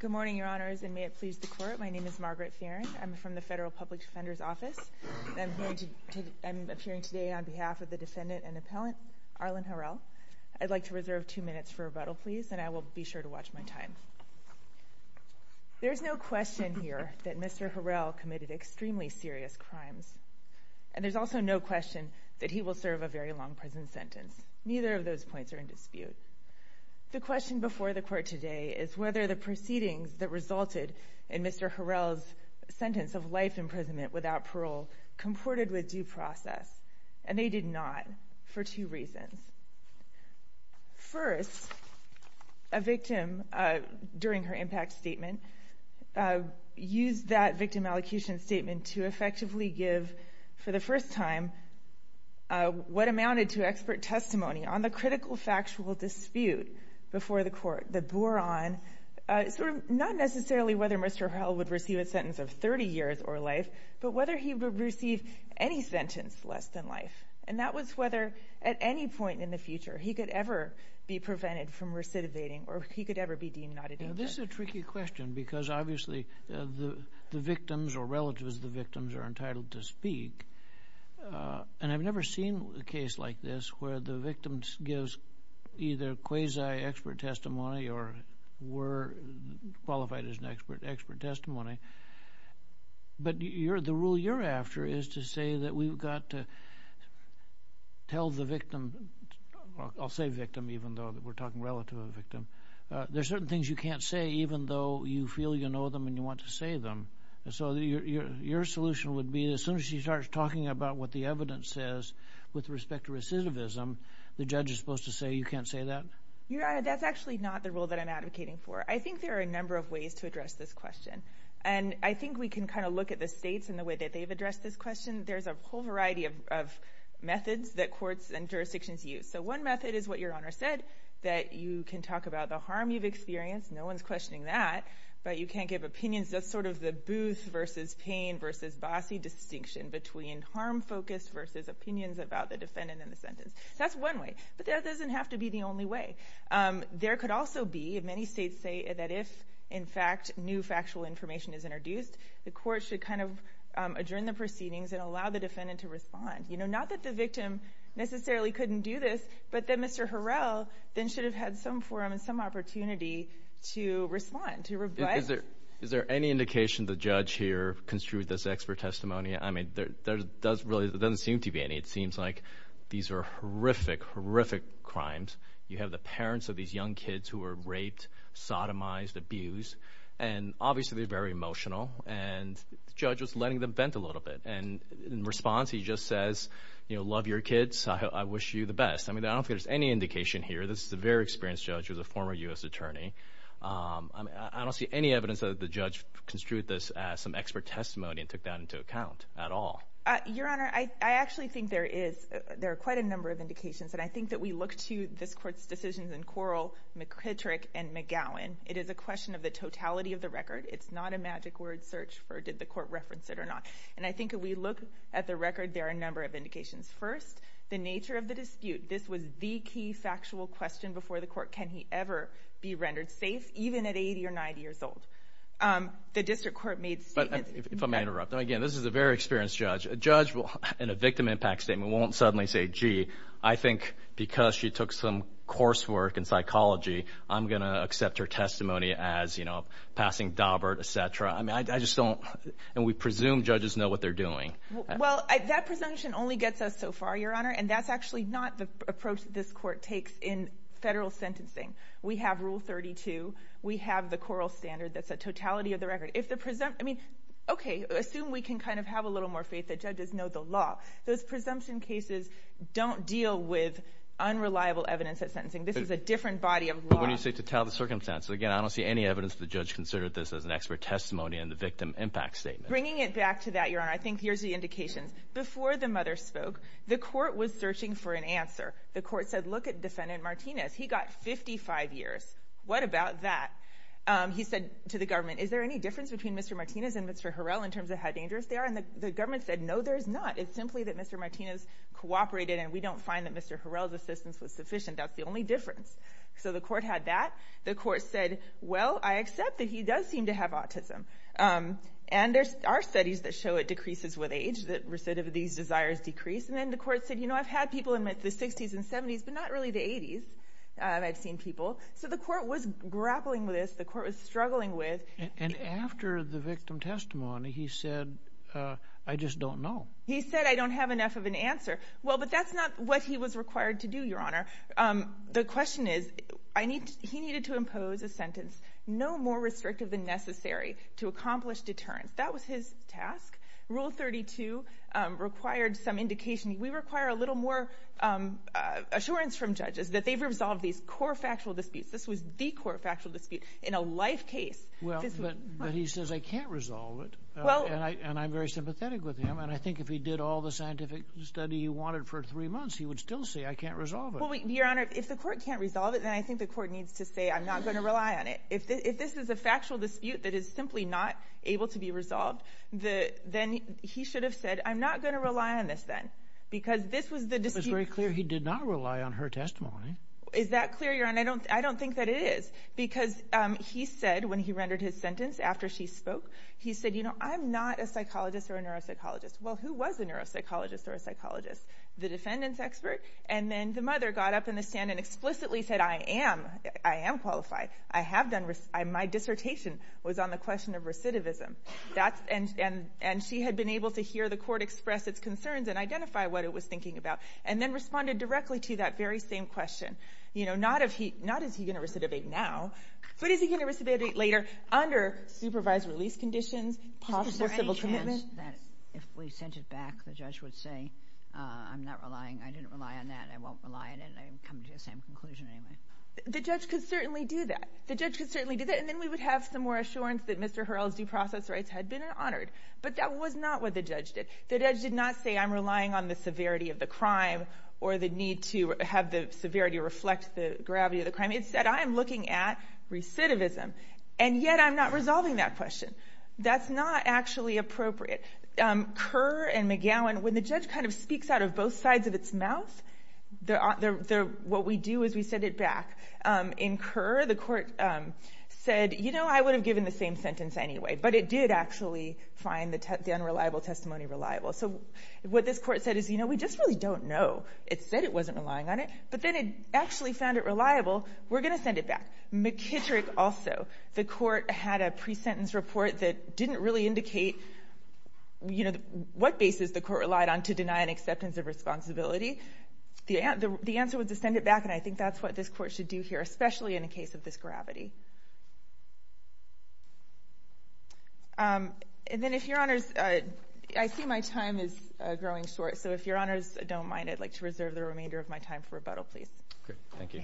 Good morning, Your Honors, and may it please the Court, my name is Margaret Fearon. I'm from the Federal Public Defender's Office. I'm appearing today on behalf of the defendant and appellant, Arlan Harrell. I'd like to reserve two minutes for rebuttal, please, and I will be sure to watch my time. There is no question here that Mr. Harrell committed extremely serious crimes, and there's also no question that he will serve a very long prison sentence. Neither of those points are in dispute. The question before the Court today is whether the proceedings that resulted in Mr. Harrell's sentence of life imprisonment without parole comported with due process, and they did not, for two reasons. First, a victim, during her impact statement, used that victim allocution statement to effectively give, for the first time, what amounted to expert testimony on the critical factual dispute before the Court that bore on sort of not necessarily whether Mr. Harrell would receive a sentence of 30 years or life, but whether he would receive any sentence less than life, and that was whether at any point in the future he could ever be prevented from recidivating or he could ever be deemed not a danger. This is a tricky question because obviously the victims or relatives of the victims are entitled to speak, and I've never seen a case like this where the victim gives either quasi-expert testimony or were qualified as an expert testimony. But the rule you're after is to say that we've got to tell the victim, I'll say victim even though we're talking relative of victim, there are certain things you can't say even though you feel you know them and you want to say them. So your solution would be as soon as you start talking about what the evidence says with respect to recidivism, the judge is supposed to say you can't say that? Your Honor, that's actually not the rule that I'm advocating for. I think there are a number of ways to address this question, and I think we can kind of look at the states and the way that they've addressed this question. There's a whole variety of methods that courts and jurisdictions use. So one method is what Your Honor said, that you can talk about the harm you've experienced, no one's questioning that, but you can't give opinions. That's sort of the Booth versus Payne versus Bossie distinction between harm focus versus opinions about the defendant in the sentence. That's one way, but that doesn't have to be the only way. There could also be, and many states say that if, in fact, new factual information is introduced, the court should kind of adjourn the proceedings and allow the defendant to respond. Not that the victim necessarily couldn't do this, but that Mr. Harrell then should have had some forum and some opportunity to respond, to revise. Is there any indication the judge here construed this expert testimony? I mean, there doesn't seem to be any. It seems like these are horrific, horrific crimes. You have the parents of these young kids who were raped, sodomized, abused, and obviously they're very emotional, and the judge was letting them vent a little bit. And in response, he just says, you know, love your kids, I wish you the best. I mean, I don't think there's any indication here. This is a very experienced judge who was a former U.S. attorney. I don't see any evidence that the judge construed this as some expert testimony and took that into account at all. Your Honor, I actually think there are quite a number of indications, and I think that we look to this court's decisions in Quarrel, McKittrick, and McGowan. It is a question of the totality of the record. It's not a magic word search for did the court reference it or not. And I think if we look at the record, there are a number of indications. First, the nature of the dispute. This was the key factual question before the court. Can he ever be rendered safe, even at 80 or 90 years old? The district court made statements. If I may interrupt. Again, this is a very experienced judge. A judge in a victim impact statement won't suddenly say, gee, I think because she took some coursework in psychology, I'm going to accept her testimony as, you know, passing Dobert, et cetera. I mean, I just don't. And we presume judges know what they're doing. Well, that presumption only gets us so far, Your Honor, and that's actually not the approach this court takes in federal sentencing. We have Rule 32. We have the quarrel standard. That's a totality of the record. I mean, okay, assume we can kind of have a little more faith that judges know the law. Those presumption cases don't deal with unreliable evidence at sentencing. This is a different body of law. But when you say totality of the circumstance, again, I don't see any evidence that the judge considered this as an expert testimony in the victim impact statement. Bringing it back to that, Your Honor, I think here's the indication. Before the mother spoke, the court was searching for an answer. The court said, look at Defendant Martinez. He got 55 years. What about that? He said to the government, is there any difference between Mr. Martinez and Mr. Harrell in terms of how dangerous they are? And the government said, no, there is not. It's simply that Mr. Martinez cooperated, and we don't find that Mr. Harrell's assistance was sufficient. That's the only difference. So the court had that. The court said, well, I accept that he does seem to have autism. And there are studies that show it decreases with age, that recidivities, desires decrease. And then the court said, you know, I've had people in the 60s and 70s, but not really the 80s. I've seen people. So the court was grappling with this. The court was struggling with it. And after the victim testimony, he said, I just don't know. He said, I don't have enough of an answer. Well, but that's not what he was required to do, Your Honor. The question is, he needed to impose a sentence no more restrictive than necessary to accomplish deterrence. That was his task. Rule 32 required some indication. We require a little more assurance from judges that they've resolved these core factual disputes. This was the core factual dispute in a life case. Well, but he says, I can't resolve it, and I'm very sympathetic with him. And I think if he did all the scientific study he wanted for three months, he would still say, I can't resolve it. Well, Your Honor, if the court can't resolve it, then I think the court needs to say, I'm not going to rely on it. If this is a factual dispute that is simply not able to be resolved, then he should have said, I'm not going to rely on this then. Because this was the dispute. It was very clear he did not rely on her testimony. Is that clear, Your Honor? I don't think that it is. Because he said, when he rendered his sentence after she spoke, he said, you know, I'm not a psychologist or a neuropsychologist. Well, who was a neuropsychologist or a psychologist? The defendant's expert. And then the mother got up in the stand and explicitly said, I am. I am qualified. I have done my dissertation was on the question of recidivism. And she had been able to hear the court express its concerns and identify what it was thinking about and then responded directly to that very same question. You know, not is he going to recidivate now, but is he going to recidivate later under supervised release conditions, possible civil commitment? If we sent it back, the judge would say, I'm not relying. I didn't rely on that. I won't rely on it. I'm coming to the same conclusion anyway. The judge could certainly do that. The judge could certainly do that. And then we would have some more assurance that Mr. Hurrell's due process rights had been honored. But that was not what the judge did. The judge did not say, I'm relying on the severity of the crime or the need to have the severity reflect the gravity of the crime. Instead, I am looking at recidivism. And yet I'm not resolving that question. That's not actually appropriate. Kerr and McGowan, when the judge kind of speaks out of both sides of its mouth, what we do is we send it back. In Kerr, the court said, you know, I would have given the same sentence anyway. But it did actually find the unreliable testimony reliable. So what this court said is, you know, we just really don't know. It said it wasn't relying on it. But then it actually found it reliable. We're going to send it back. McKittrick also. The court had a pre-sentence report that didn't really indicate, you know, what basis the court relied on to deny an acceptance of responsibility. The answer was to send it back, and I think that's what this court should do here, especially in a case of this gravity. And then if Your Honors, I see my time is growing short. So if Your Honors don't mind, Thank you.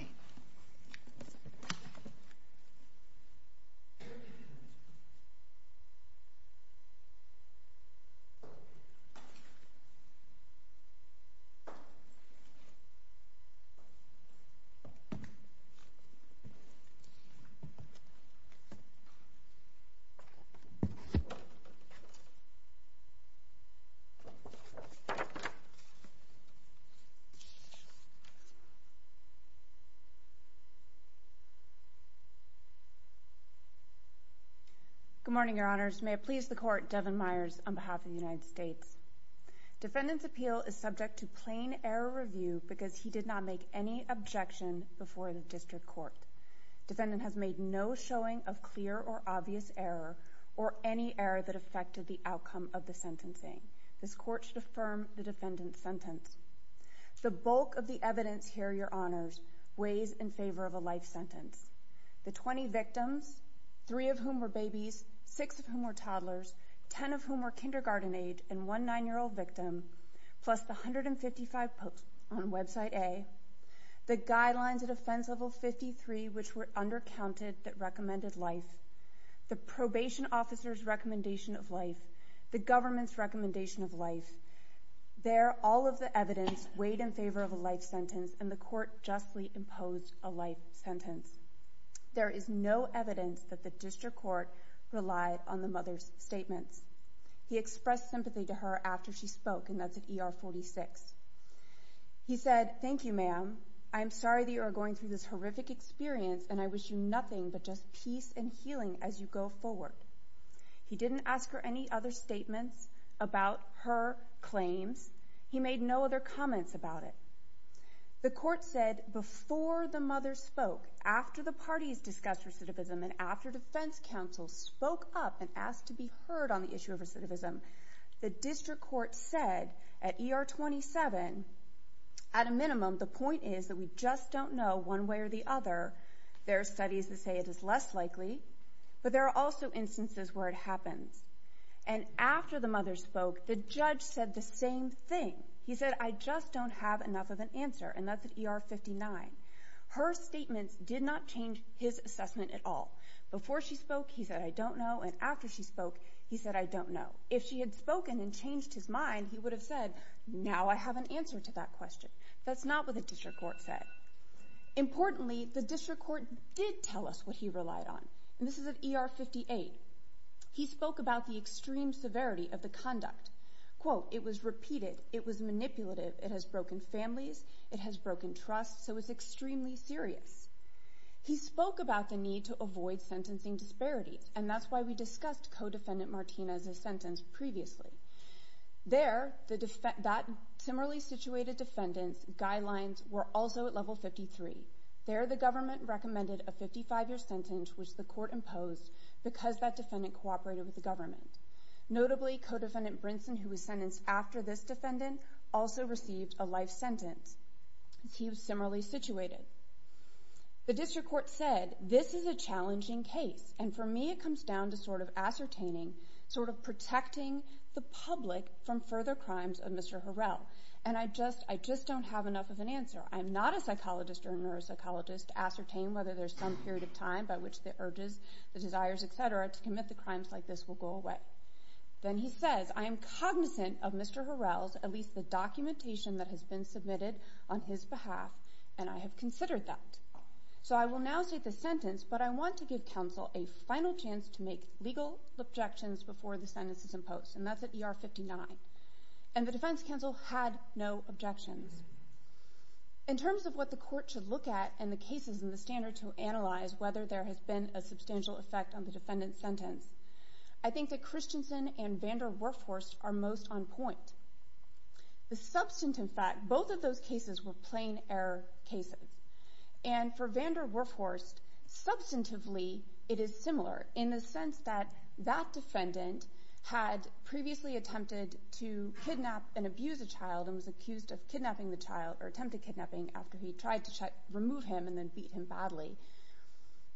Good morning, Your Honors. May it please the court, Devin Myers on behalf of the United States. Defendant's appeal is subject to plain error review because he did not make any objection before the district court. Defendant has made no showing of clear or obvious error or any error that affected the outcome of the sentencing. This court should affirm the defendant's sentence. The bulk of the evidence here, Your Honors, weighs in favor of a life sentence. The 20 victims, 3 of whom were babies, 6 of whom were toddlers, 10 of whom were kindergarten age, and one 9-year-old victim, plus the 155 posts on website A, the guidelines at offense level 53 which were undercounted that recommended life, the probation officer's recommendation of life, the government's recommendation of life. There, all of the evidence weighed in favor of a life sentence, and the court justly imposed a life sentence. There is no evidence that the district court relied on the mother's statements. He expressed sympathy to her after she spoke, and that's at ER 46. He said, Thank you, ma'am. I am sorry that you are going through this horrific experience, and I wish you nothing but just peace and healing as you go forward. He didn't ask her any other statements about her claims. He made no other comments about it. The court said before the mother spoke, after the parties discussed recidivism, and after defense counsel spoke up and asked to be heard on the issue of recidivism, the district court said at ER 27, at a minimum, the point is that we just don't know one way or the other. There are studies that say it is less likely, but there are also instances where it happens. And after the mother spoke, the judge said the same thing. He said, I just don't have enough of an answer, and that's at ER 59. Her statements did not change his assessment at all. Before she spoke, he said, I don't know, and after she spoke, he said, I don't know. If she had spoken and changed his mind, he would have said, Now I have an answer to that question. That's not what the district court said. Importantly, the district court did tell us what he relied on, and this is at ER 58. He spoke about the extreme severity of the conduct. Quote, it was repeated, it was manipulative, it has broken families, it has broken trust, so it's extremely serious. He spoke about the need to avoid sentencing disparities, and that's why we discussed co-defendant Martinez's sentence previously. There, that similarly situated defendant's guidelines were also at level 53. There, the government recommended a 55-year sentence, which the court imposed because that defendant cooperated with the government. Notably, co-defendant Brinson, who was sentenced after this defendant, also received a life sentence. He was similarly situated. The district court said, this is a challenging case, and for me it comes down to sort of ascertaining, sort of protecting the public from further crimes of Mr. Harrell. And I just don't have enough of an answer. I'm not a psychologist or a neuropsychologist to ascertain whether there's some period of time by which the urges, the desires, etc., to commit the crimes like this will go away. Then he says, I am cognizant of Mr. Harrell's, at least the documentation that has been submitted on his behalf, and I have considered that. So I will now state the sentence, but I want to give counsel a final chance to make legal objections before the sentence is imposed, and that's at ER 59. And the defense counsel had no objections. In terms of what the court should look at and the cases in the standard to analyze whether there has been a substantial effect on the defendant's sentence, I think that Christensen and Vander Workhorst are most on point. The substantive fact, both of those cases were plain error cases, and for Vander Workhorst, substantively it is similar in the sense that that defendant had previously attempted to kidnap and abuse a child and was accused of kidnapping the child or attempted kidnapping after he tried to remove him and then beat him badly.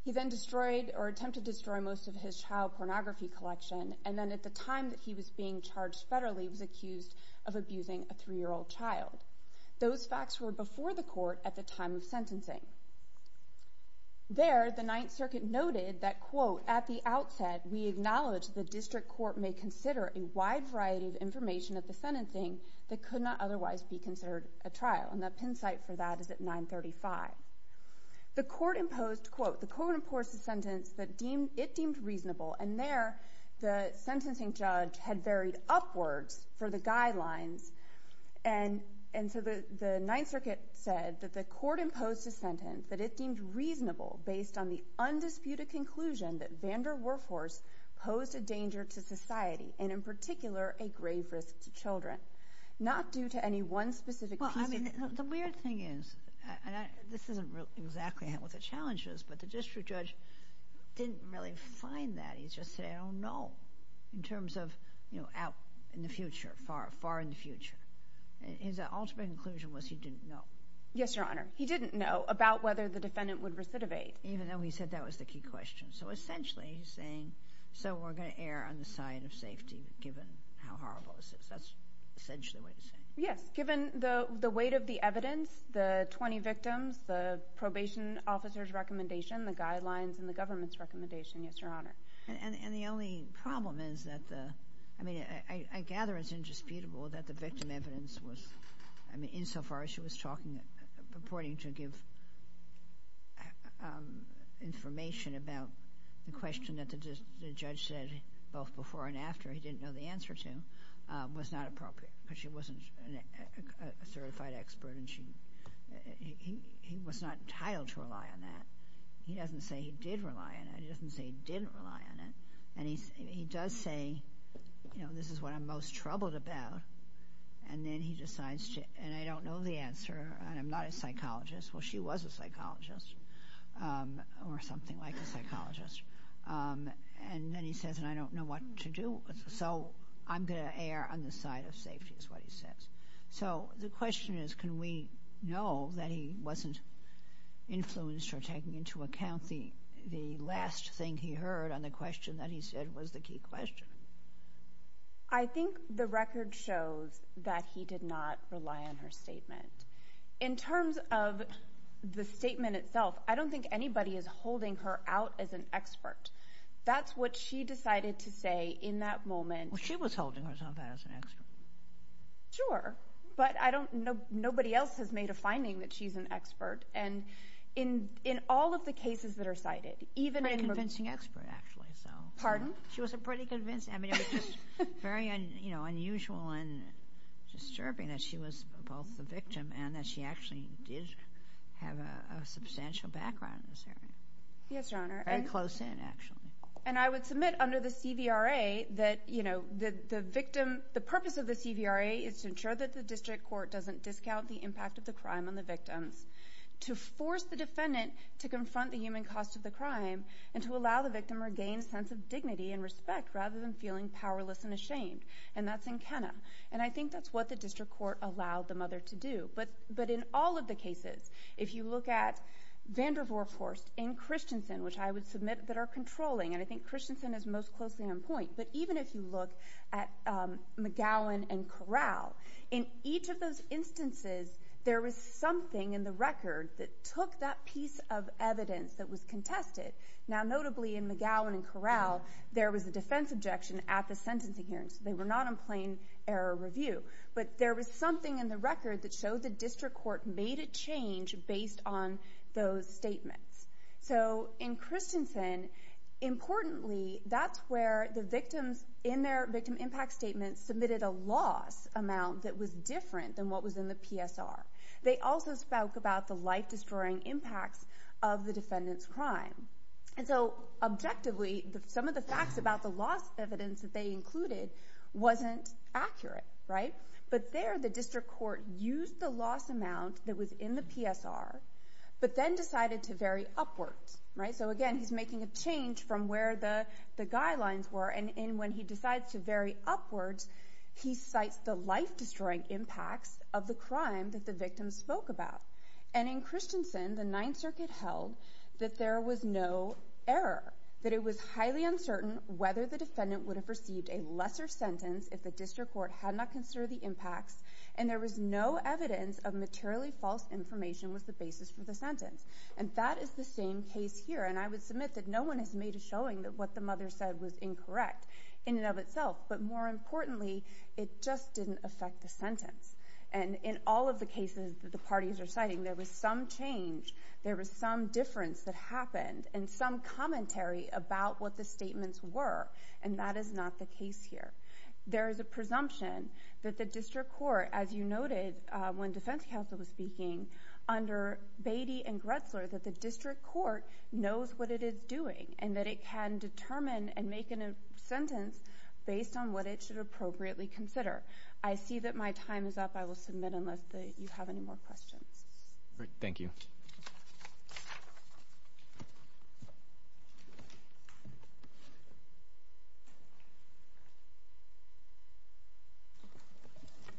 He then destroyed or attempted to destroy most of his child pornography collection, and then at the time that he was being charged federally was accused of abusing a 3-year-old child. Those facts were before the court at the time of sentencing. There, the Ninth Circuit noted that, quote, at the outset we acknowledge the district court may consider a wide variety of information at the sentencing that could not otherwise be considered a trial, and the pin site for that is at 935. The court imposed, quote, the court imposed a sentence that it deemed reasonable, and there the sentencing judge had varied upwards for the guidelines and so the Ninth Circuit said that the court imposed a sentence that it deemed reasonable based on the undisputed conclusion that Vander Workhorst posed a danger to society and in particular a grave risk to children, not due to any one specific piece of- Well, I mean, the weird thing is, and this isn't exactly what the challenge is, but the district judge didn't really find that. He just said, I don't know, in terms of out in the future, far in the future. His ultimate conclusion was he didn't know. Yes, Your Honor. He didn't know about whether the defendant would recidivate. Even though he said that was the key question. So essentially he's saying, so we're going to err on the side of safety given how horrible this is. That's essentially what he's saying. Yes, given the weight of the evidence, the 20 victims, the probation officer's recommendation, the guidelines, and the government's recommendation. Yes, Your Honor. And the only problem is that the- I mean, I gather it's indisputable that the victim evidence was- I mean, insofar as she was talking, purporting to give information about the question that the judge said both before and after he didn't know the answer to, was not appropriate because she wasn't a certified expert and he was not entitled to rely on that. He doesn't say he did rely on it. He doesn't say he didn't rely on it. And he does say, you know, this is what I'm most troubled about. And then he decides to- and I don't know the answer and I'm not a psychologist. Well, she was a psychologist or something like a psychologist. And then he says, and I don't know what to do. So I'm going to err on the side of safety is what he says. So the question is, can we know that he wasn't influenced or taking into account the last thing he heard on the question that he said was the key question? I think the record shows that he did not rely on her statement. In terms of the statement itself, I don't think anybody is holding her out as an expert. That's what she decided to say in that moment. She was holding herself out as an expert. Sure. But nobody else has made a finding that she's an expert. And in all of the cases that are cited, even in- A pretty convincing expert, actually. Pardon? She was a pretty convincing- I mean, it was just very unusual and disturbing that she was both the victim and that she actually did have a substantial background in this area. Yes, Your Honor. Very close in, actually. And I would submit under the CVRA that the victim- The purpose of the CVRA is to ensure that the district court doesn't discount the impact of the crime on the victims, to force the defendant to confront the human cost of the crime, and to allow the victim to regain a sense of dignity and respect rather than feeling powerless and ashamed. And that's in Kenna. And I think that's what the district court allowed the mother to do. But in all of the cases, if you look at Vandervoort, of course, and Christensen, which I would submit that are controlling, and I think Christensen is most closely on point, but even if you look at McGowan and Corral, in each of those instances there was something in the record that took that piece of evidence that was contested. Now, notably in McGowan and Corral, there was a defense objection at the sentencing hearing, so they were not in plain error review. But there was something in the record that showed the district court made a change based on those statements. So in Christensen, importantly, that's where the victims in their victim impact statements submitted a loss amount that was different than what was in the PSR. They also spoke about the life-destroying impacts of the defendant's crime. And so, objectively, some of the facts about the loss evidence that they included wasn't accurate, right? But there the district court used the loss amount that was in the PSR, but then decided to vary upwards, right? So again, he's making a change from where the guidelines were, and when he decides to vary upwards, he cites the life-destroying impacts of the crime that the victims spoke about. And in Christensen, the Ninth Circuit held that there was no error, that it was highly uncertain whether the defendant would have received a lesser sentence if the district court had not considered the impacts, and there was no evidence of materially false information was the basis for the sentence. And that is the same case here, and I would submit that no one has made a showing that what the mother said was incorrect in and of itself, but more importantly, it just didn't affect the sentence. And in all of the cases that the parties are citing, there was some change, there was some difference that happened, and some commentary about what the statements were, and that is not the case here. There is a presumption that the district court, as you noted when defense counsel was speaking, under Beatty and Gretzler, that the district court knows what it is doing, and that it can determine and make a sentence based on what it should appropriately consider. I see that my time is up. I will submit unless you have any more questions. Thank you.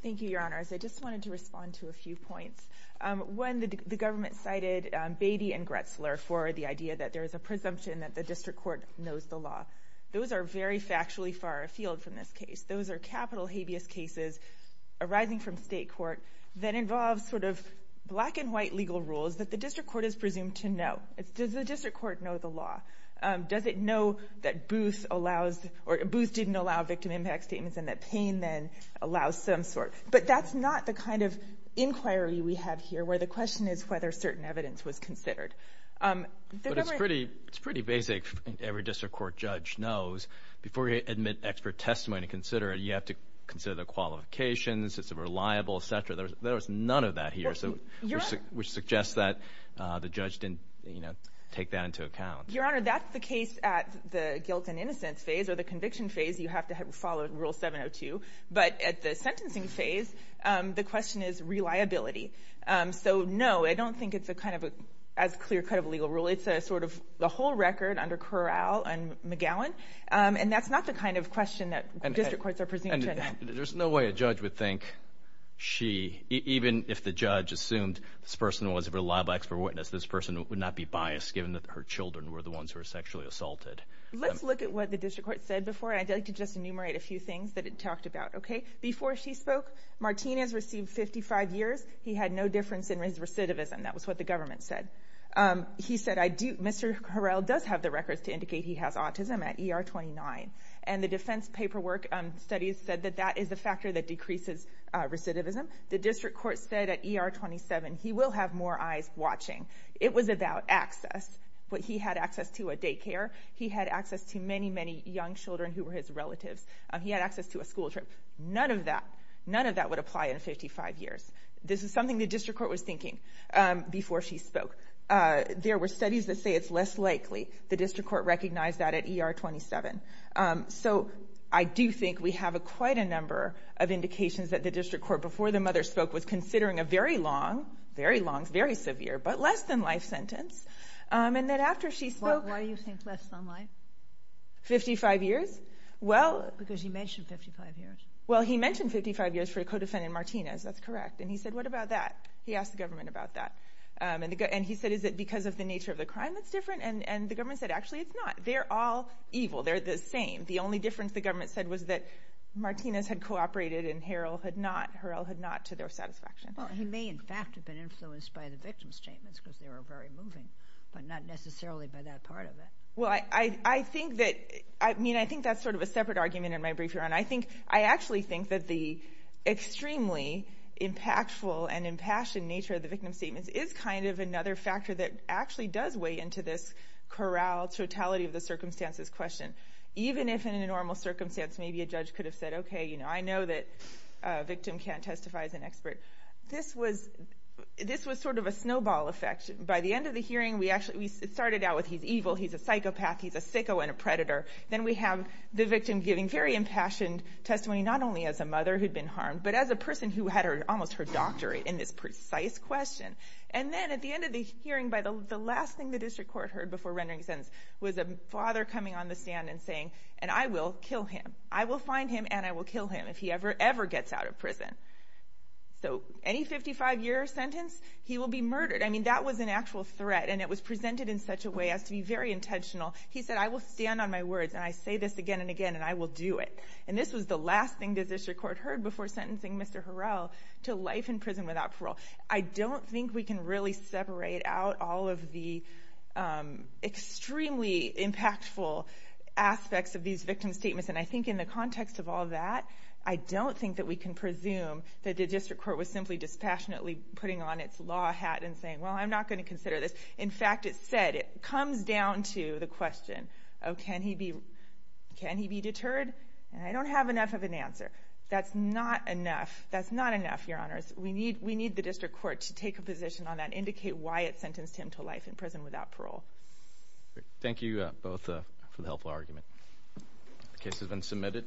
Thank you, Your Honors. I just wanted to respond to a few points. One, the government cited Beatty and Gretzler for the idea that there is a presumption that the district court knows the law. Those are very factually far afield from this case. Those are capital habeas cases arising from state court that involve sort of black and white legal rules that the district court is presumed to know. Does the district court know the law? Does it know that Booth didn't allow victim impact statements and that Payne then allows some sort? But that's not the kind of inquiry we have here where the question is whether certain evidence was considered. But it's pretty basic. Every district court judge knows before you admit expert testimony to consider it, you have to consider the qualifications, it's reliable, et cetera. There is none of that here, which suggests that the judge didn't take that into account. Your Honor, that's the case at the guilt and innocence phase or the conviction phase. You have to follow Rule 702. But at the sentencing phase, the question is reliability. So, no, I don't think it's kind of as clear-cut of a legal rule. It's sort of the whole record under Corral and McGowan. And that's not the kind of question that district courts are presumed to know. There's no way a judge would think she, even if the judge assumed this person was a reliable expert witness, this person would not be biased given that her children were the ones who were sexually assaulted. Let's look at what the district court said before. I'd like to just enumerate a few things that it talked about. Before she spoke, Martinez received 55 years. He had no difference in his recidivism. That was what the government said. He said, Mr. Corral does have the records to indicate he has autism at ER 29. And the defense paperwork studies said that that is a factor that decreases recidivism. The district court said at ER 27 he will have more eyes watching. It was about access. But he had access to a daycare. He had access to many, many young children who were his relatives. He had access to a school trip. None of that, none of that would apply in 55 years. This is something the district court was thinking before she spoke. There were studies that say it's less likely. The district court recognized that at ER 27. So I do think we have quite a number of indications that the district court, before the mother spoke, was considering a very long, very long, very severe, but less-than-life sentence, and that after she spoke... Why do you think less-than-life? 55 years? Well... Because he mentioned 55 years. Well, he mentioned 55 years for a co-defendant, Martinez. That's correct. And he said, what about that? He asked the government about that. And he said, is it because of the nature of the crime that's different? And the government said, actually, it's not. They're all evil. They're the same. The only difference, the government said, was that Martinez had cooperated and Harrell had not to their satisfaction. Well, he may in fact have been influenced by the victim's statements because they were very moving, but not necessarily by that part of it. Well, I think that... I mean, I think that's sort of a separate argument in my brief here. and impassioned nature of the victim's statements is kind of another factor that actually does weigh into this corralled totality of the circumstances question. Even if in a normal circumstance, maybe a judge could have said, okay, you know, I know that a victim can't testify as an expert. This was sort of a snowball effect. By the end of the hearing, we started out with he's evil, he's a psychopath, he's a sicko and a predator. Then we have the victim giving very impassioned testimony, not only as a mother who'd been harmed, but as a person who had almost her doctorate in this precise question. And then at the end of the hearing, the last thing the district court heard before rendering a sentence was a father coming on the stand and saying, and I will kill him. I will find him and I will kill him if he ever, ever gets out of prison. So any 55-year sentence, he will be murdered. I mean, that was an actual threat, and it was presented in such a way as to be very intentional. He said, I will stand on my words and I say this again and again and I will do it. And this was the last thing the district court heard before sentencing Mr. Harrell to life in prison without parole. I don't think we can really separate out all of the extremely impactful aspects of these victim statements, and I think in the context of all that, I don't think that we can presume that the district court was simply dispassionately putting on its law hat and saying, well, I'm not going to consider this. In fact, it said, it comes down to the question of can he be deterred? And I don't have enough of an answer. That's not enough. That's not enough, Your Honors. We need the district court to take a position on that and indicate why it sentenced him to life in prison without parole. Thank you both for the helpful argument. The case has been submitted.